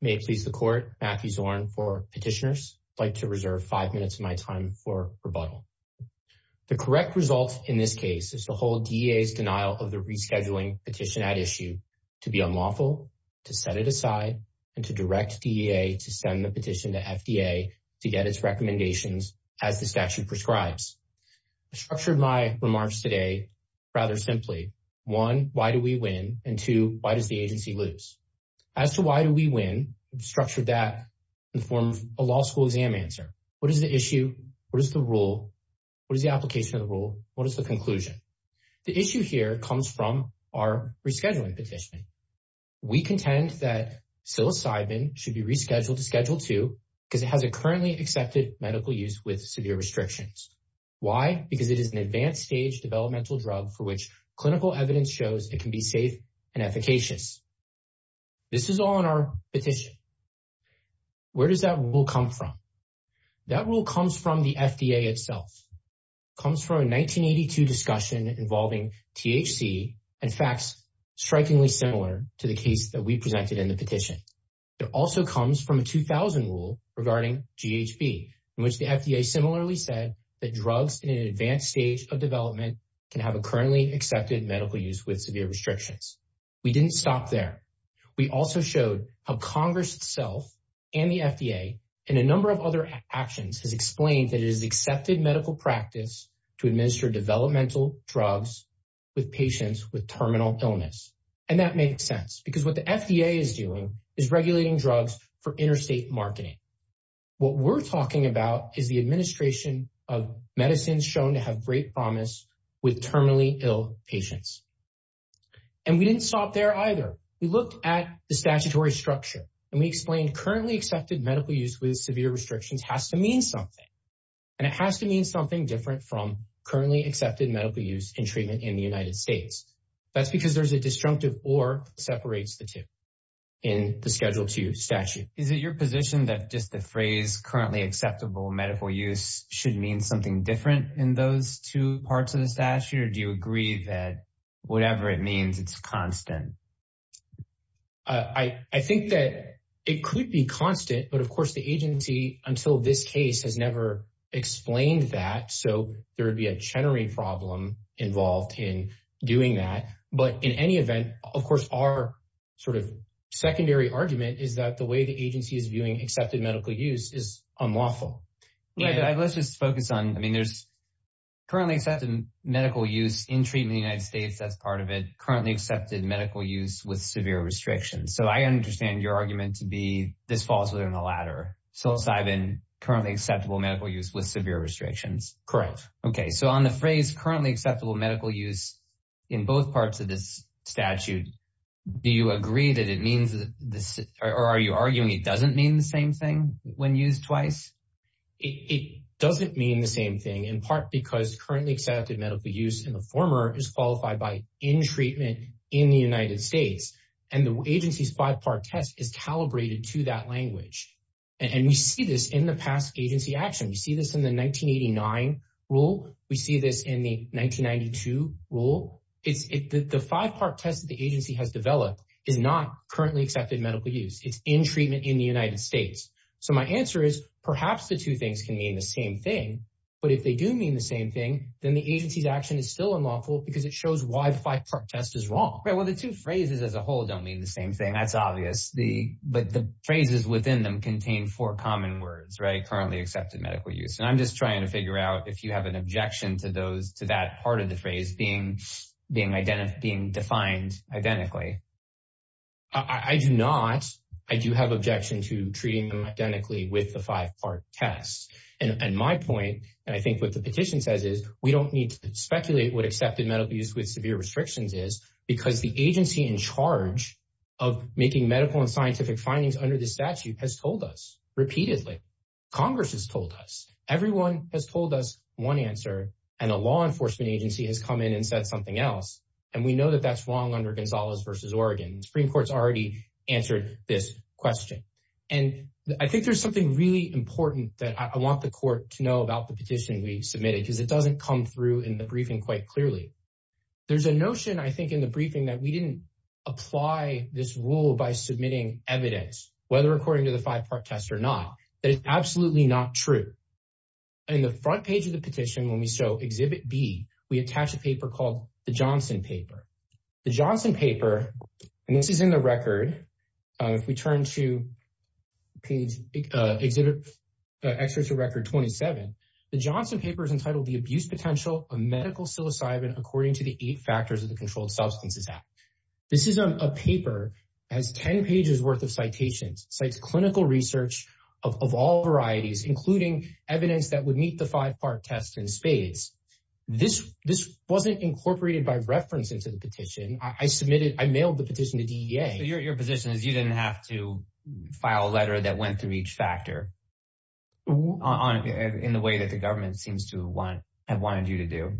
May it please the court, Matthew Zorn for petitioners. I'd like to reserve five minutes of my time for rebuttal. The correct result in this case is to hold DEA's denial of the rescheduling petition at issue to be unlawful, to set it aside, and to direct DEA to send the petition to FDA to get its recommendations as the statute prescribes. I structured my question, why do we win? And two, why does the agency lose? As to why do we win, I structured that in the form of a law school exam answer. What is the issue? What is the rule? What is the application of the rule? What is the conclusion? The issue here comes from our rescheduling petition. We contend that psilocybin should be rescheduled to schedule two because it has a currently accepted medical use with severe restrictions. Why? Because it is an advanced stage developmental drug for which clinical evidence shows it can be safe and efficacious. This is all in our petition. Where does that rule come from? That rule comes from the FDA itself. It comes from a 1982 discussion involving THC and facts strikingly similar to the case that we presented in the petition. It also comes from a 2000 rule regarding GHB, in which the FDA similarly said that drugs in an advanced stage of development can have a currently accepted medical use with severe restrictions. We didn't stop there. We also showed how Congress itself and the FDA and a number of other actions has explained that it is accepted medical practice to administer developmental drugs with patients with terminal illness. And that makes sense because what the FDA is doing is regulating drugs for interstate marketing. What we're talking about is the administration of medicines shown to have great promise with terminally ill patients. And we didn't stop there either. We looked at the statutory structure and we explained currently accepted medical use with severe restrictions has to mean something. And it has to mean something different from currently accepted medical use and treatment in the United States. That's because there's a disjunctive or separates the two in the schedule two statute. Is it your position that just the phrase currently acceptable medical use should mean something different in those two parts of the statute? Or do you agree that whatever it means, it's constant? I think that it could be constant, but of course the agency until this case has never explained that. So there in any event, of course, our sort of secondary argument is that the way the agency is viewing accepted medical use is unlawful. Let's just focus on, I mean, there's currently accepted medical use in treatment in the United States. That's part of it. Currently accepted medical use with severe restrictions. So I understand your argument to be this falls within the latter. Psilocybin, currently acceptable medical use with severe restrictions. Correct. Okay. So on the phrase currently acceptable medical use in both parts of this statute, do you agree that it means this or are you arguing it doesn't mean the same thing when used twice? It doesn't mean the same thing in part because currently accepted medical use in the former is qualified by in treatment in the United States. And the agency's five part test is calibrated to that language. And we see this in the past agency action. We see this in the 1989 rule. We see this in the 1992 rule. It's the five part test that the agency has developed is not currently accepted medical use. It's in treatment in the United States. So my answer is perhaps the two things can mean the same thing, but if they do mean the same thing, then the agency's action is still unlawful because it shows why the five part test is wrong. Right? Well, the two phrases as a whole don't mean the same thing. That's obvious. The, but the phrases within them contain four common words, right? Currently accepted medical use. And I'm just trying to figure out if you have an objection to those to that part of the phrase being, being identified, being defined identically. I do not. I do have objection to treating them identically with the five part tests. And my point, and I think what the petition says is we don't need to speculate what accepted medical use with severe restrictions is because the agency in charge of making medical and Everyone has told us one answer and a law enforcement agency has come in and said something else. And we know that that's wrong under Gonzalez versus Oregon. The Supreme Court's already answered this question. And I think there's something really important that I want the court to know about the petition we submitted because it doesn't come through in the briefing quite clearly. There's a notion, I think in the briefing that we didn't apply this rule by submitting evidence, whether according to the five part test or not, that is absolutely not true. In the front page of the petition, when we show exhibit B, we attach a paper called the Johnson paper, the Johnson paper, and this is in the record. If we turn to page exhibit extra to record 27, the Johnson paper is entitled the abuse potential of medical psilocybin, according to the eight factors of the controlled substances This is a paper has 10 pages worth of citations, cites clinical research of all varieties, including evidence that would meet the five part test in spades. This wasn't incorporated by reference into the petition. I submitted, I mailed the petition to DEA. Your position is you didn't have to file a letter that went through each factor in the way that the government seems to have wanted you to do.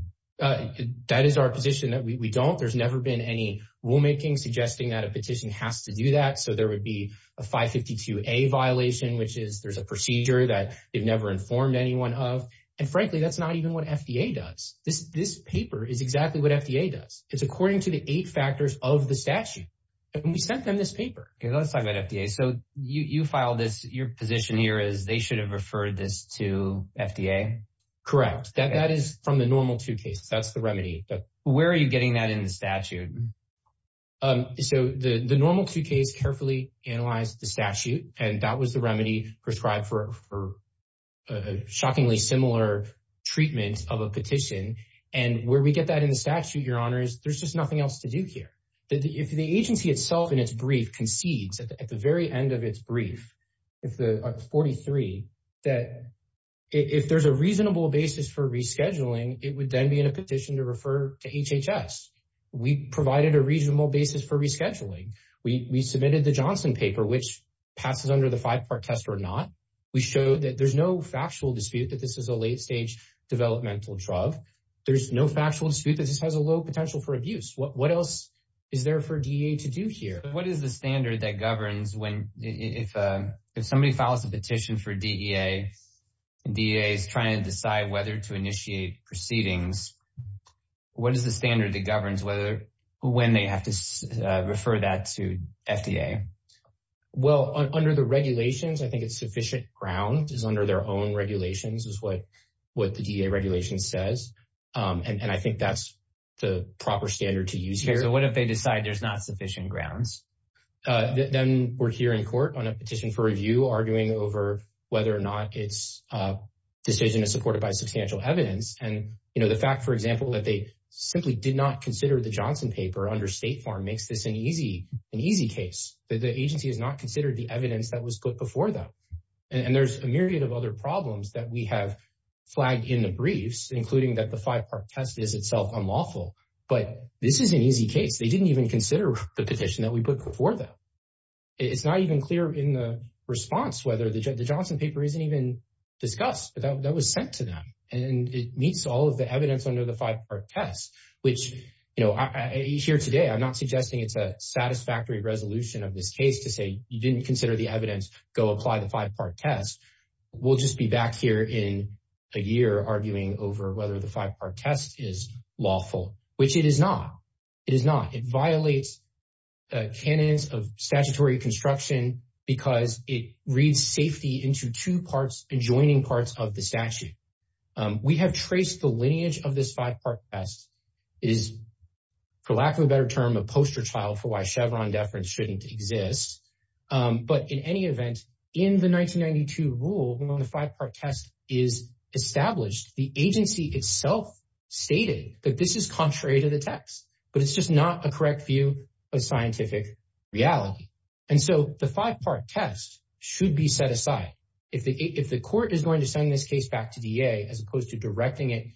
That is our position that we don't. There's never been any rulemaking suggesting that a petition has to do that. So there would be a 552A violation, which is there's a procedure that they've never informed anyone of. And frankly, that's not even what FDA does. This paper is exactly what FDA does. It's according to the eight factors of the statute. And we sent them this paper. Let's talk about FDA. So you filed this, your position here is they should have referred this to FDA? Correct. That is from the normal two cases. That's the remedy. But where are you getting that in the statute? So the normal two case carefully analyzed the statute, and that was the remedy prescribed for a shockingly similar treatment of a petition. And where we get that in the statute, your honor, is there's just nothing else to do here. If the agency itself in its brief concedes at the very end of its brief, if the 43, that if there's a reasonable basis for rescheduling, it would then be in a petition to refer to HHS. We provided a reasonable basis for rescheduling. We submitted the Johnson paper, which passes under the five part test or not. We showed that there's no factual dispute that this is a late stage developmental drug. There's no factual dispute that this has a low potential for abuse. What else is there for DEA to do here? What is the standard that governs when if somebody files a petition for DEA, DEA is trying to decide whether to initiate proceedings. What is the standard that governs whether when they have to refer that to FDA? Well, under the regulations, I think it's sufficient ground is under their own regulations is what what the DEA regulation says. And I think that's the proper standard to use here. So what if they decide there's not sufficient grounds? Then we're here in court on a petition for review, arguing over whether or not it's a decision is supported by substantial evidence. And, you know, the fact, for example, that they simply did not consider the Johnson paper under state form makes this an easy an easy case that the agency has not considered the evidence that was put before them. And there's a myriad of other problems that we have flagged in the briefs, including that the five part test is itself unlawful. But this is an easy case. They didn't even consider the petition that we put before them. It's not even clear in the response whether the Johnson paper isn't even discussed, but that was sent to them. And it meets all of the evidence under the five part test, which, you know, here today, I'm not suggesting it's a satisfactory resolution of this case to say you didn't consider the evidence. Go apply the five part test. We'll just be back here in a year arguing over whether the five part test is lawful, which it is not. It is not. It violates the canons of statutory construction because it reads safety into two parts and joining parts of the statute. We have traced the lineage of this five part test is, for lack of a better term, a poster child for why Chevron deference shouldn't exist. But in any event, in the 1992 rule, when the five part test is established, the agency itself stated that this is contrary to the text, but it's just not a correct view of scientific reality. And so the five part test should be set aside. If the court is going to send this case back to D.A. as opposed to directing it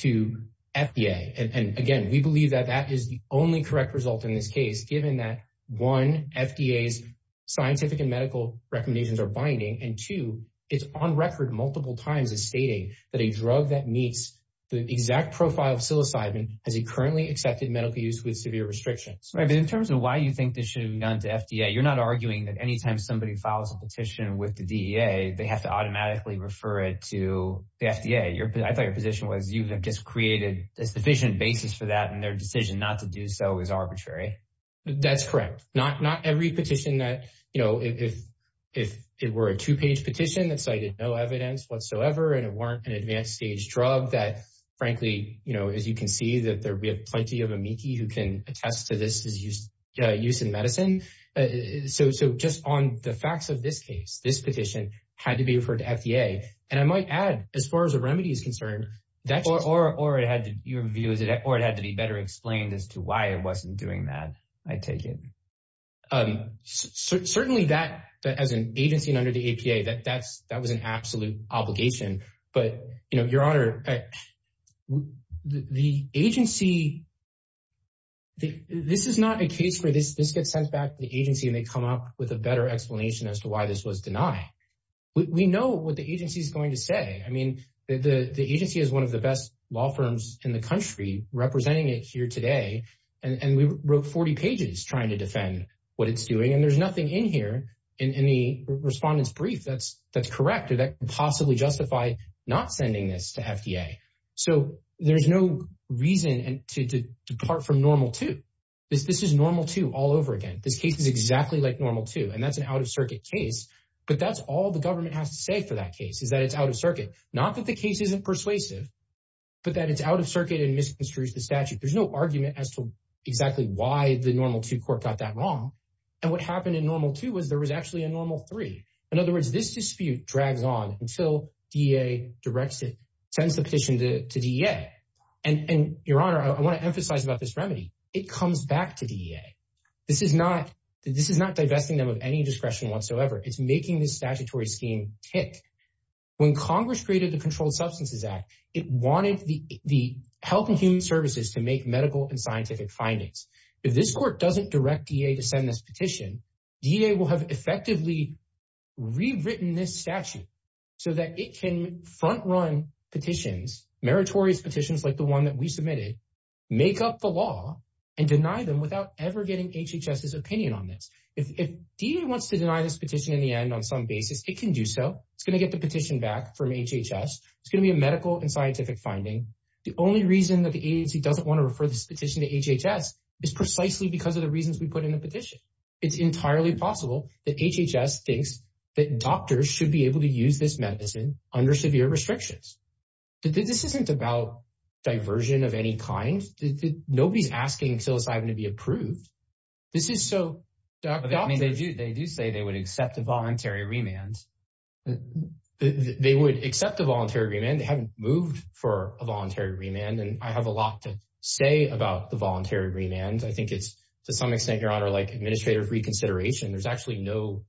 to F.B.A. And again, we believe that that is the only correct result in this case, given that one F.B.A.'s scientific and medical recommendations are binding and two, it's on record multiple times as stating that a drug that meets the exact profile of psilocybin has a currently accepted medical use with In terms of why you think this should have gone to F.B.A., you're not arguing that anytime somebody files a petition with the D.A., they have to automatically refer it to the F.B.A. I thought your position was you just created a sufficient basis for that and their decision not to do so is arbitrary. That's correct. Not every petition that, you know, if it were a two page petition that cited no evidence whatsoever and it weren't an advanced stage drug that, frankly, you know, you can see that we have plenty of amici who can attest to this use in medicine. So just on the facts of this case, this petition had to be referred to F.B.A. And I might add, as far as the remedy is concerned, that's... Or it had to be better explained as to why it wasn't doing that, I take it. Certainly that, as an agency under the A.P.A., that was an absolute obligation. But, you know, Your Honor, the agency... This is not a case where this gets sent back to the agency and they come up with a better explanation as to why this was denied. We know what the agency is going to say. I mean, the agency is one of the best law firms in the country representing it here today. And we wrote 40 pages trying to defend what it's doing. And nothing in here, in the respondent's brief, that's correct or that could possibly justify not sending this to F.B.A. So there's no reason to depart from normal two. This is normal two all over again. This case is exactly like normal two and that's an out-of-circuit case. But that's all the government has to say for that case is that it's out-of-circuit. Not that the case isn't persuasive, but that it's out-of-circuit and misconstrues the statute. There's no argument as to exactly why the normal two court got that wrong. And what happened in normal two was there was actually a normal three. In other words, this dispute drags on until D.E.A. directs it, sends the petition to D.E.A. And Your Honor, I want to emphasize about this remedy. It comes back to D.E.A. This is not divesting them of any discretion whatsoever. It's making this statutory scheme tick. When Congress created the Controlled Substances Act, it wanted the Health and Human Services to make medical and scientific findings. If this court doesn't direct D.E.A. to send this petition, D.E.A. will have effectively rewritten this statute so that it can front-run petitions, meritorious petitions like the one that we submitted, make up the law and deny them without ever getting HHS's opinion on this. If D.E.A. wants to deny this petition in the end on some basis, it can do so. It's going to get the petition back from HHS. It's going to be a medical and scientific finding. The only reason that the agency doesn't want to refer this petition to HHS is precisely because of the reasons we put in the petition. It's entirely possible that HHS thinks that doctors should be able to use this medicine under severe restrictions. This isn't about diversion of any kind. Nobody's asking psilocybin to be approved. They do say they would accept a voluntary remand. They haven't moved for a voluntary remand. I have a lot to say about the voluntary remand. I think it's to some extent, Your Honor, like administrative reconsideration. There's actually no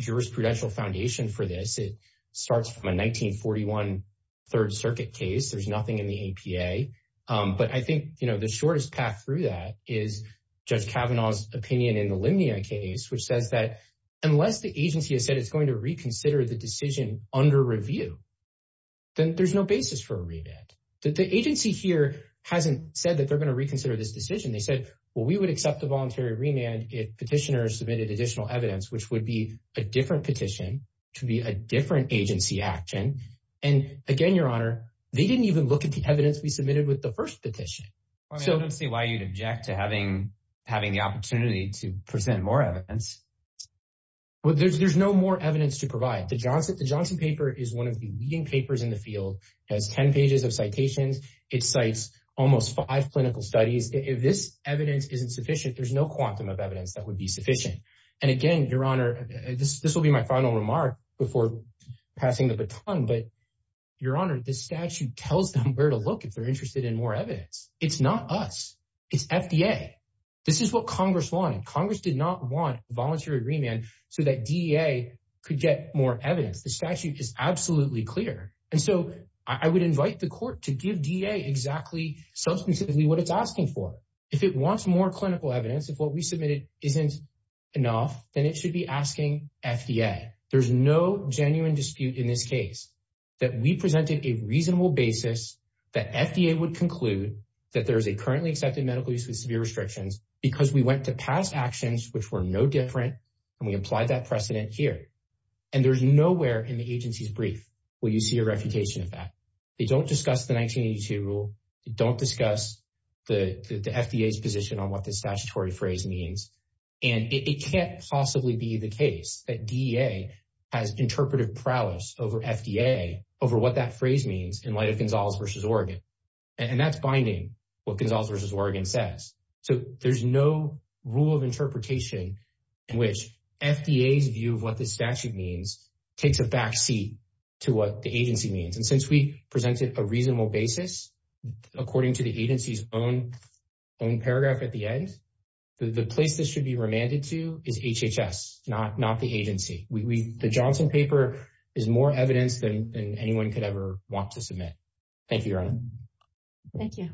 jurisprudential foundation for this. It starts from a 1941 Third Circuit case. There's nothing in the APA. But I think the shortest path through that is Judge Kavanaugh's opinion in the Limnia case, which says that unless the agency has said it's going to reconsider the decision under review, then there's no basis for a remand. The agency here hasn't said that they're going to reconsider this decision. They said, well, we would accept a voluntary remand if petitioners submitted additional evidence, which would be a different petition, could be a different agency action. And again, Your Honor, they didn't even look at the evidence we submitted with the first petition. I don't see why you'd object to having the opportunity to present more evidence. There's no more evidence to provide. The Johnson paper is one of the leading papers in the field. It has 10 pages of citations. It cites almost five clinical studies. If this evidence isn't sufficient, there's no quantum of evidence that would be sufficient. And again, Your Honor, this will be my final remark before passing the baton, but Your Honor, this statute tells them to look if they're interested in more evidence. It's not us. It's FDA. This is what Congress wanted. Congress did not want a voluntary remand so that DEA could get more evidence. The statute is absolutely clear. And so I would invite the court to give DEA exactly, substantively what it's asking for. If it wants more clinical evidence, if what we submitted isn't enough, then it should be asking FDA. There's no genuine dispute in this case that we presented a reasonable basis that FDA would conclude that there is a currently accepted medical use with severe restrictions because we went to past actions, which were no different, and we applied that precedent here. And there's nowhere in the agency's brief where you see a refutation of that. They don't discuss the 1982 rule. They don't discuss the FDA's position on what this statutory phrase means. And it can't possibly be the case that DEA has interpretive prowess over FDA, over what that phrase means in light of Gonzales v. Oregon. And that's binding, what Gonzales v. Oregon says. So there's no rule of interpretation in which FDA's view of what this statute means takes a backseat to what the agency means. And since we presented a reasonable basis, according to the agency's own paragraph at the end, the place this should be remanded to is HHS, not the agency. The Johnson paper is more evidence than anyone could ever want to submit. Thank you, Your Honor. Thank you.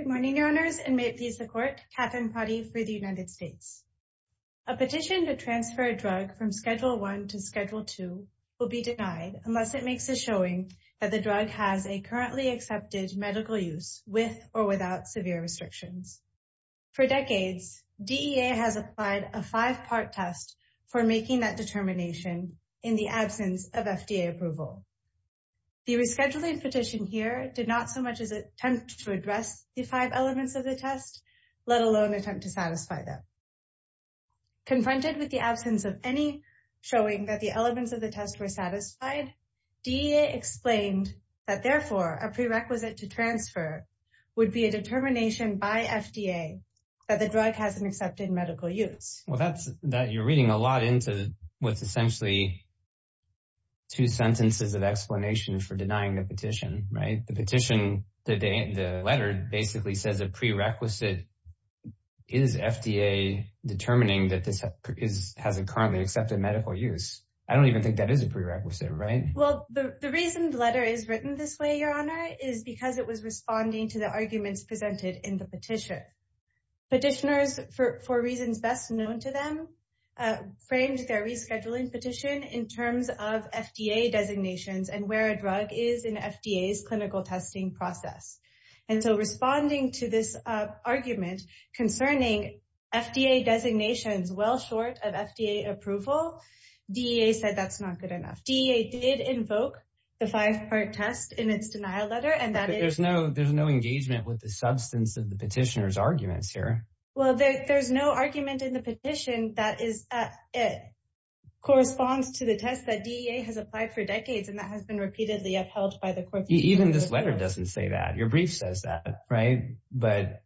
Good morning, Your Honors, and may it please the Court, Katherine Prady for the United States. A petition to transfer a drug from Schedule 1 to Schedule 2 will be denied unless it makes a showing that the drug has a currently accepted medical use with or without severe restrictions. For decades, DEA has applied a five-part test for making that determination in the absence of FDA approval. The rescheduling petition here did not so much as attempt to address the five elements of the test, let alone attempt to satisfy them. Confronted with the absence of any showing that the elements of the test were satisfied, DEA explained that, therefore, a prerequisite to FDA that the drug has an accepted medical use. Well, you're reading a lot into what's essentially two sentences of explanation for denying the petition, right? The petition, the letter, basically says a prerequisite is FDA determining that this has a currently accepted medical use. I don't even think that is a prerequisite, right? Well, the reason the letter is written this way, is because it was responding to the arguments presented in the petition. Petitioners, for reasons best known to them, framed their rescheduling petition in terms of FDA designations and where a drug is in FDA's clinical testing process. And so, responding to this argument concerning FDA designations well short of FDA approval, DEA said that's not good enough. DEA did invoke the five-part test in its denial letter. There's no engagement with the substance of the petitioner's arguments here. Well, there's no argument in the petition that it corresponds to the test that DEA has applied for decades and that has been repeatedly upheld by the court. Even this letter doesn't say that. Your brief says that, right? But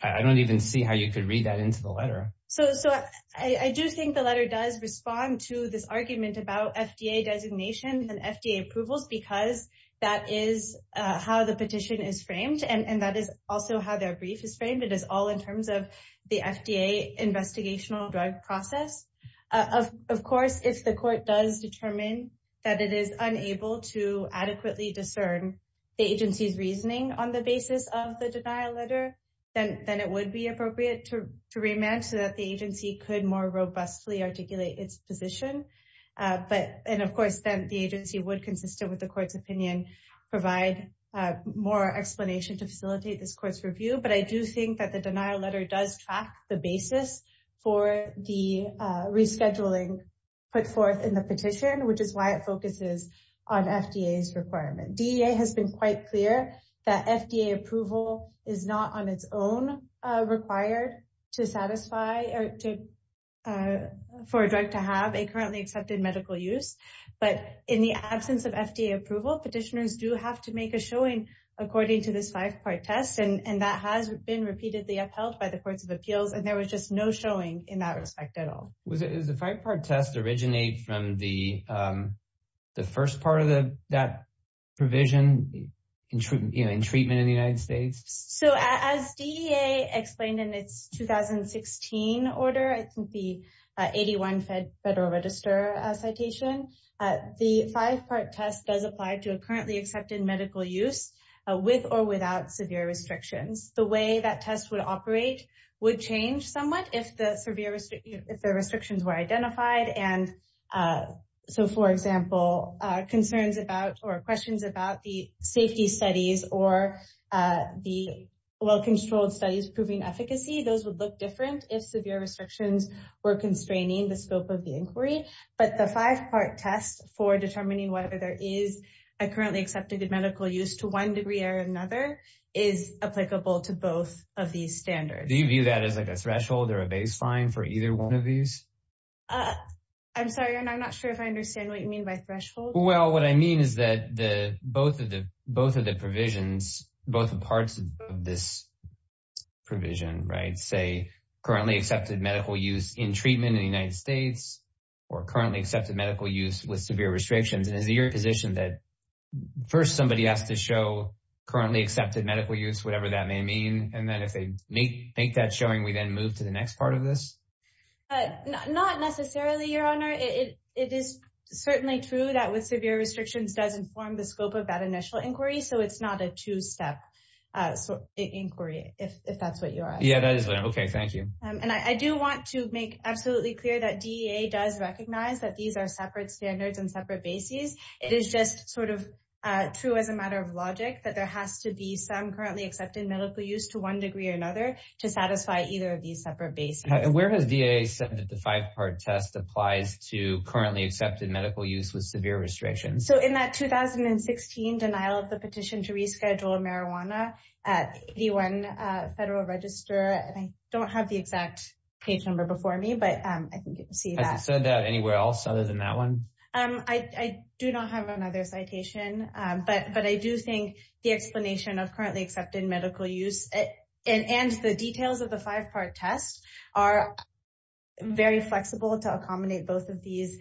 I don't even see how you could read that into the letter. So, I do think the letter does respond to this argument about FDA designation and FDA approvals, because that is how the petition is framed and that is also how their brief is framed. It is all in terms of the FDA investigational drug process. Of course, if the court does determine that it is unable to adequately discern the agency's reasoning on the basis of the denial letter, then it would be appropriate to remand so that the agency could more robustly articulate its position. But, and of course, then the agency would, consistent with the court's opinion, provide more explanation to facilitate this court's review. But I do think that the denial letter does track the basis for the rescheduling put forth in the petition, which is why it focuses on FDA's requirement. DEA has been quite clear that FDA approval is not on its own required for a drug to have a currently accepted medical use. But in the absence of FDA approval, petitioners do have to make a showing according to this five-part test and that has been repeatedly upheld by the courts of appeals and there was just no showing in that respect at all. Does the five-part test originate from the first part of that provision in treatment in the United States? So as DEA explained in its 2016 order, I think the 81 Federal Register citation, the five-part test does apply to a currently accepted medical use with or without severe restrictions. The way that test would operate would change somewhat if the restrictions were identified. So for example, concerns about or questions about the safety studies or the well-controlled studies proving efficacy, those would look different if severe restrictions were constraining the scope of the inquiry. But the five-part test for determining whether there is a currently accepted medical use to one degree or another is applicable to both of these standards. Do you view that as a threshold or a baseline for either one of these? I'm sorry, I'm not sure if I understand what you mean by threshold. Well, what I mean is that both of the provisions, both parts of this provision, say currently accepted medical use in treatment in the United States or currently accepted medical use with severe restrictions. And is it your position that first somebody has to show currently accepted medical use, whatever that may mean, and then if they make that showing, we then move to the next part of this? Not necessarily, Your Honor. It is certainly true that with severe restrictions does inform the scope of that initial inquiry. So it's not a two-step inquiry, if that's what you're asking. Yeah, that is what I'm, okay, thank you. And I do want to make absolutely clear that DEA does recognize that these are separate standards and separate bases. It is just sort of true as a matter of logic that there has to be some currently accepted medical use to one degree or another to satisfy either of these separate bases. Where has DEA said that the five-part test applies to currently accepted medical use with severe restrictions? So in that 2016 denial of the petition to reschedule marijuana at 81 Federal Register, and I don't have the exact page number for me, but I think you can see that. Has it said that anywhere else other than that one? I do not have another citation. But I do think the explanation of currently accepted medical use and the details of the five-part test are very flexible to accommodate both of these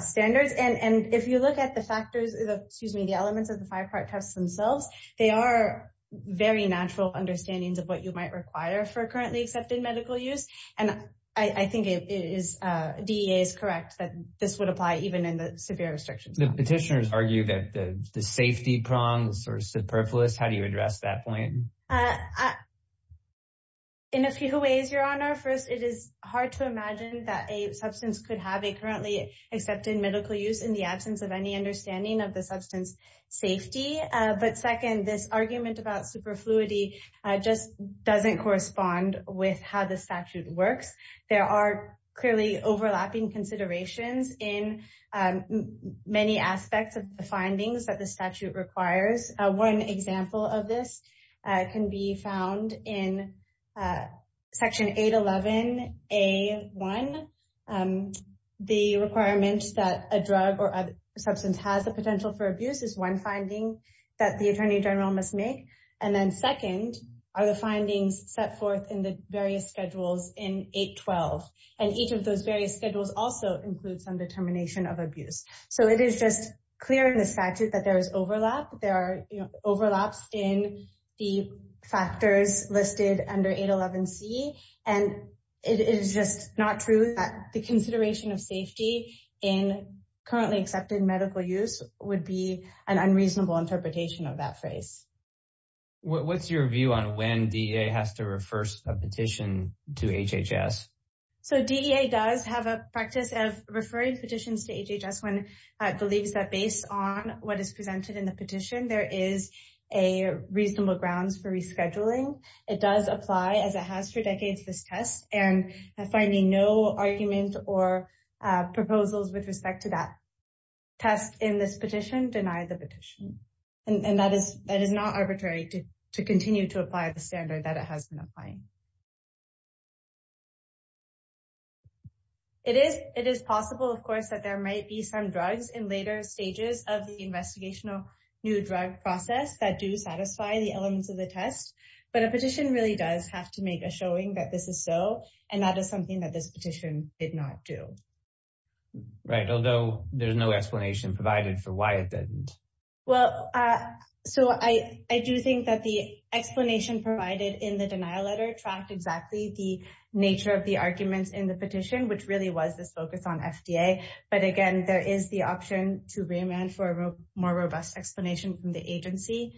standards. And if you look at the factors, excuse me, the elements of the five-part tests themselves, they are very natural understandings of what you might require for currently accepted medical use. And I think DEA is correct that this would apply even in the severe restrictions. The petitioners argue that the safety prongs are superfluous. How do you address that point? In a few ways, Your Honor. First, it is hard to imagine that a substance could have a currently accepted medical use in the absence of any understanding of the substance safety. But second, this argument about superfluity just doesn't correspond with how the statute works. There are clearly overlapping considerations in many aspects of the findings that the statute requires. One example of this can be found in Section 811A1. The requirement that a drug or attorney general must make. And then second, are the findings set forth in the various schedules in 812. And each of those various schedules also include some determination of abuse. So it is just clear in the statute that there is overlap. There are overlaps in the factors listed under 811C. And it is just not true that the consideration of safety in currently accepted medical use would be an unreasonable interpretation of that phrase. What is your view on when DEA has to refer a petition to HHS? So DEA does have a practice of referring petitions to HHS when it believes that based on what is presented in the petition, there is a reasonable grounds for rescheduling. It does apply as it has for decades, this test. And finding no argument or proposals with respect to that test in this petition, deny the petition. And that is not arbitrary to continue to apply the standard that it has been applying. It is possible, of course, that there might be some drugs in later stages of the investigational new drug process that do satisfy the elements of the showing that this is so. And that is something that this petition did not do. Right, although there's no explanation provided for why it didn't. Well, so I do think that the explanation provided in the denial letter tracked exactly the nature of the arguments in the petition, which really was this focus on FDA. But again, there is the option to remand for a more robust explanation from the agency.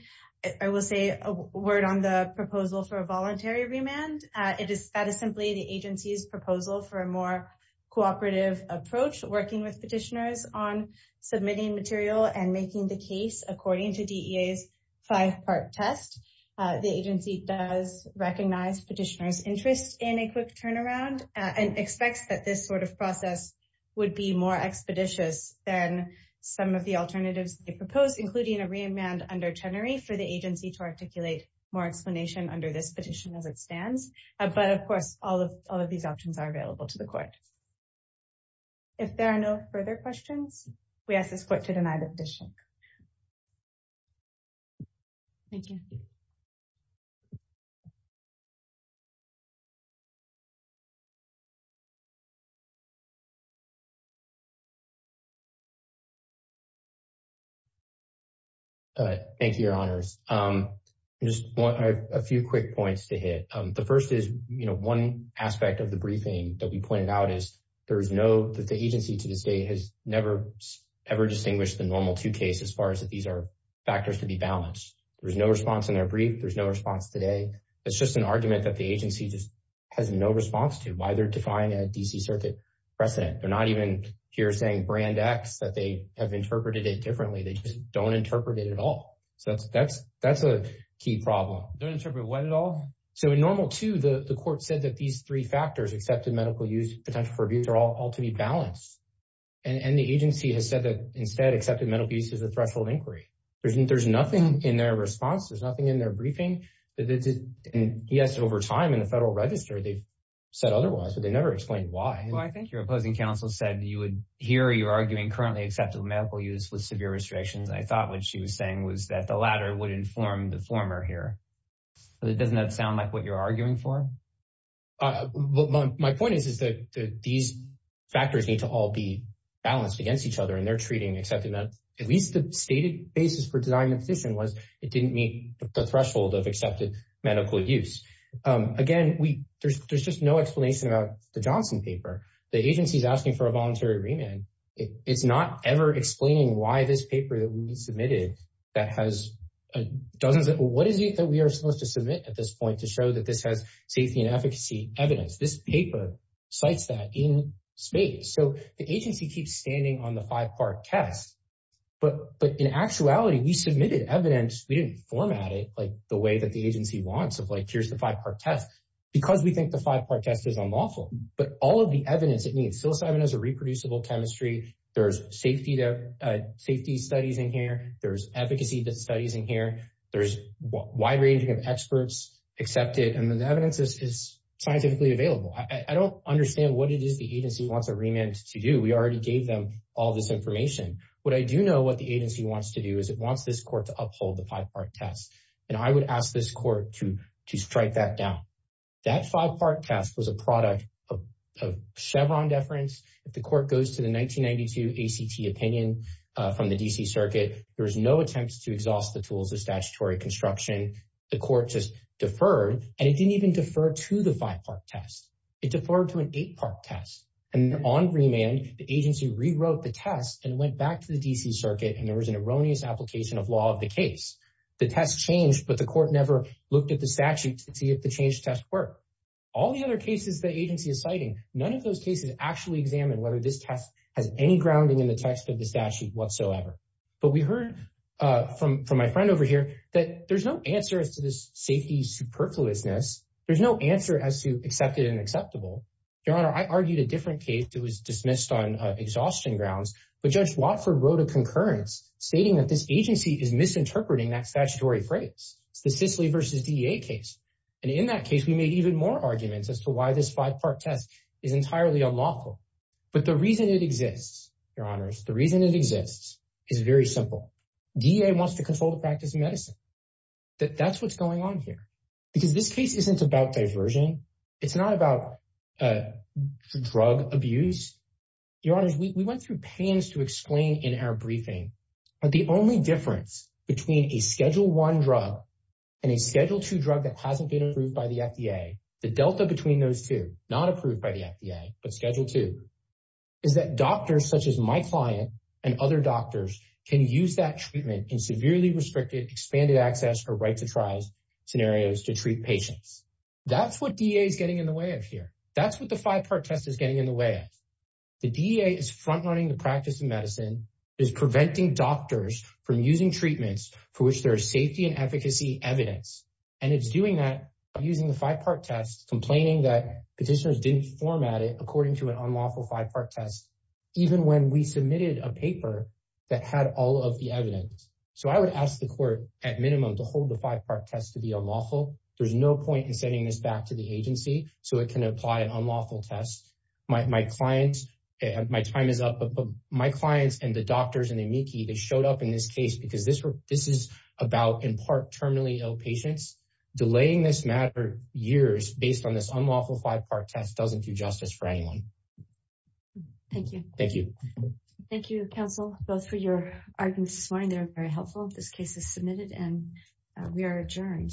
I will say a word on the proposal for a voluntary remand. It is that is simply the agency's proposal for a more cooperative approach working with petitioners on submitting material and making the case according to DEA's five-part test. The agency does recognize petitioner's interest in a quick turnaround and expects that this sort of process would be more expeditious than some of alternatives they propose, including a remand under Tenery for the agency to articulate more explanation under this petition as it stands. But of course, all of these options are available to the court. If there are no further questions, we ask this court to deny the petition. Thank you. All right. Thank you, Your Honors. Just a few quick points to hit. The first is, you know, one aspect of the briefing that we pointed out is there is no that the agency to this day has never ever distinguished the normal two cases as far as that these are factors to be balanced. There's no response in their brief. There's no response today. It's just an argument that the agency just has no response to why they're defying a DC circuit precedent. They're not even here saying brand X, that they have interpreted it differently. They just don't interpret it at all. So that's a key problem. Don't interpret what at all? So in normal two, the court said that these three factors, accepted medical use, potential for abuse, are all to be balanced. And the agency has said that instead, accepted medical use is a threshold inquiry. There's nothing in their response. There's nothing in their briefing. And yes, over time in the Federal Register, they've said otherwise, but they never explained why. Well, I think your opposing counsel said you would hear you're arguing currently accepted medical use with severe restrictions. I thought what she was saying was that the latter would inform the former here. But it doesn't sound like what you're arguing for. My point is, is that these factors need to all be balanced against each other. And they're treating accepting that at least the stated basis for denying the position was it didn't meet the threshold of accepted medical use. Again, we there's there's just no explanation about the Johnson paper. The agency is asking for a voluntary remand. It's not ever explaining why this paper that we submitted that has dozens of what is it that we are supposed to submit at this point to show that this has safety and efficacy evidence. This paper cites that in space. So the agency keeps standing on the five part test. But but in actuality, we submitted evidence, we didn't format it like the way that the agency wants of like, here's the five part test, because we think the five part test is unlawful. But all of the evidence that needs psilocybin as a reproducible chemistry, there's safety, safety studies in here, there's advocacy that studies in here, there's wide ranging of experts accepted and then evidence is scientifically available. I don't understand what it is the agency wants a remand to do. We already gave them all this information. What I do know what the agency wants to do is it wants this court to that five part test was a product of Chevron deference. If the court goes to the 1992 ACT opinion from the DC circuit, there was no attempts to exhaust the tools of statutory construction. The court just deferred and it didn't even defer to the five part test. It deferred to an eight part test. And on remand, the agency rewrote the test and went back to the DC circuit and there was an erroneous application of law of the case. The test changed but the court never looked at statute to see if the change test work. All the other cases the agency is citing, none of those cases actually examined whether this test has any grounding in the text of the statute whatsoever. But we heard from my friend over here that there's no answer as to this safety superfluousness. There's no answer as to accepted and acceptable. Your honor, I argued a different case that was dismissed on exhaustion grounds. But Judge Watford wrote a concurrence stating that this agency is misinterpreting that statutory phrase. It's the Cicely versus DEA case. And in that case, we made even more arguments as to why this five part test is entirely unlawful. But the reason it exists, your honors, the reason it exists is very simple. DEA wants to control the practice of medicine. That's what's going on here. Because this case isn't about diversion. It's not about drug abuse. Your honors, we went through pans to explain in our briefing, but the only difference between a Schedule I drug and a Schedule II drug that hasn't been approved by the FDA, the delta between those two, not approved by the FDA, but Schedule II, is that doctors such as my client and other doctors can use that treatment in severely restricted expanded access or right to trials scenarios to treat patients. That's what DEA is getting in the way of here. That's what the five part test is getting in the way of. The DEA is front running the practice of medicine, is preventing doctors from using treatments for which there is safety and efficacy evidence. And it's doing that using the five part test, complaining that petitioners didn't format it according to an unlawful five part test, even when we submitted a paper that had all of the evidence. So I would ask the court at minimum to hold the five part test to be unlawful. There's no point in sending this back to the agency so it can apply an unlawful test. My clients, my time is up, but my clients and the doctors and the amici that showed up in this case, because this is about in part terminally ill patients, delaying this matter years based on this unlawful five part test doesn't do justice for anyone. Thank you. Thank you. Thank you, counsel, both for your arguments this morning. They were very helpful. This case is submitted and we are adjourned.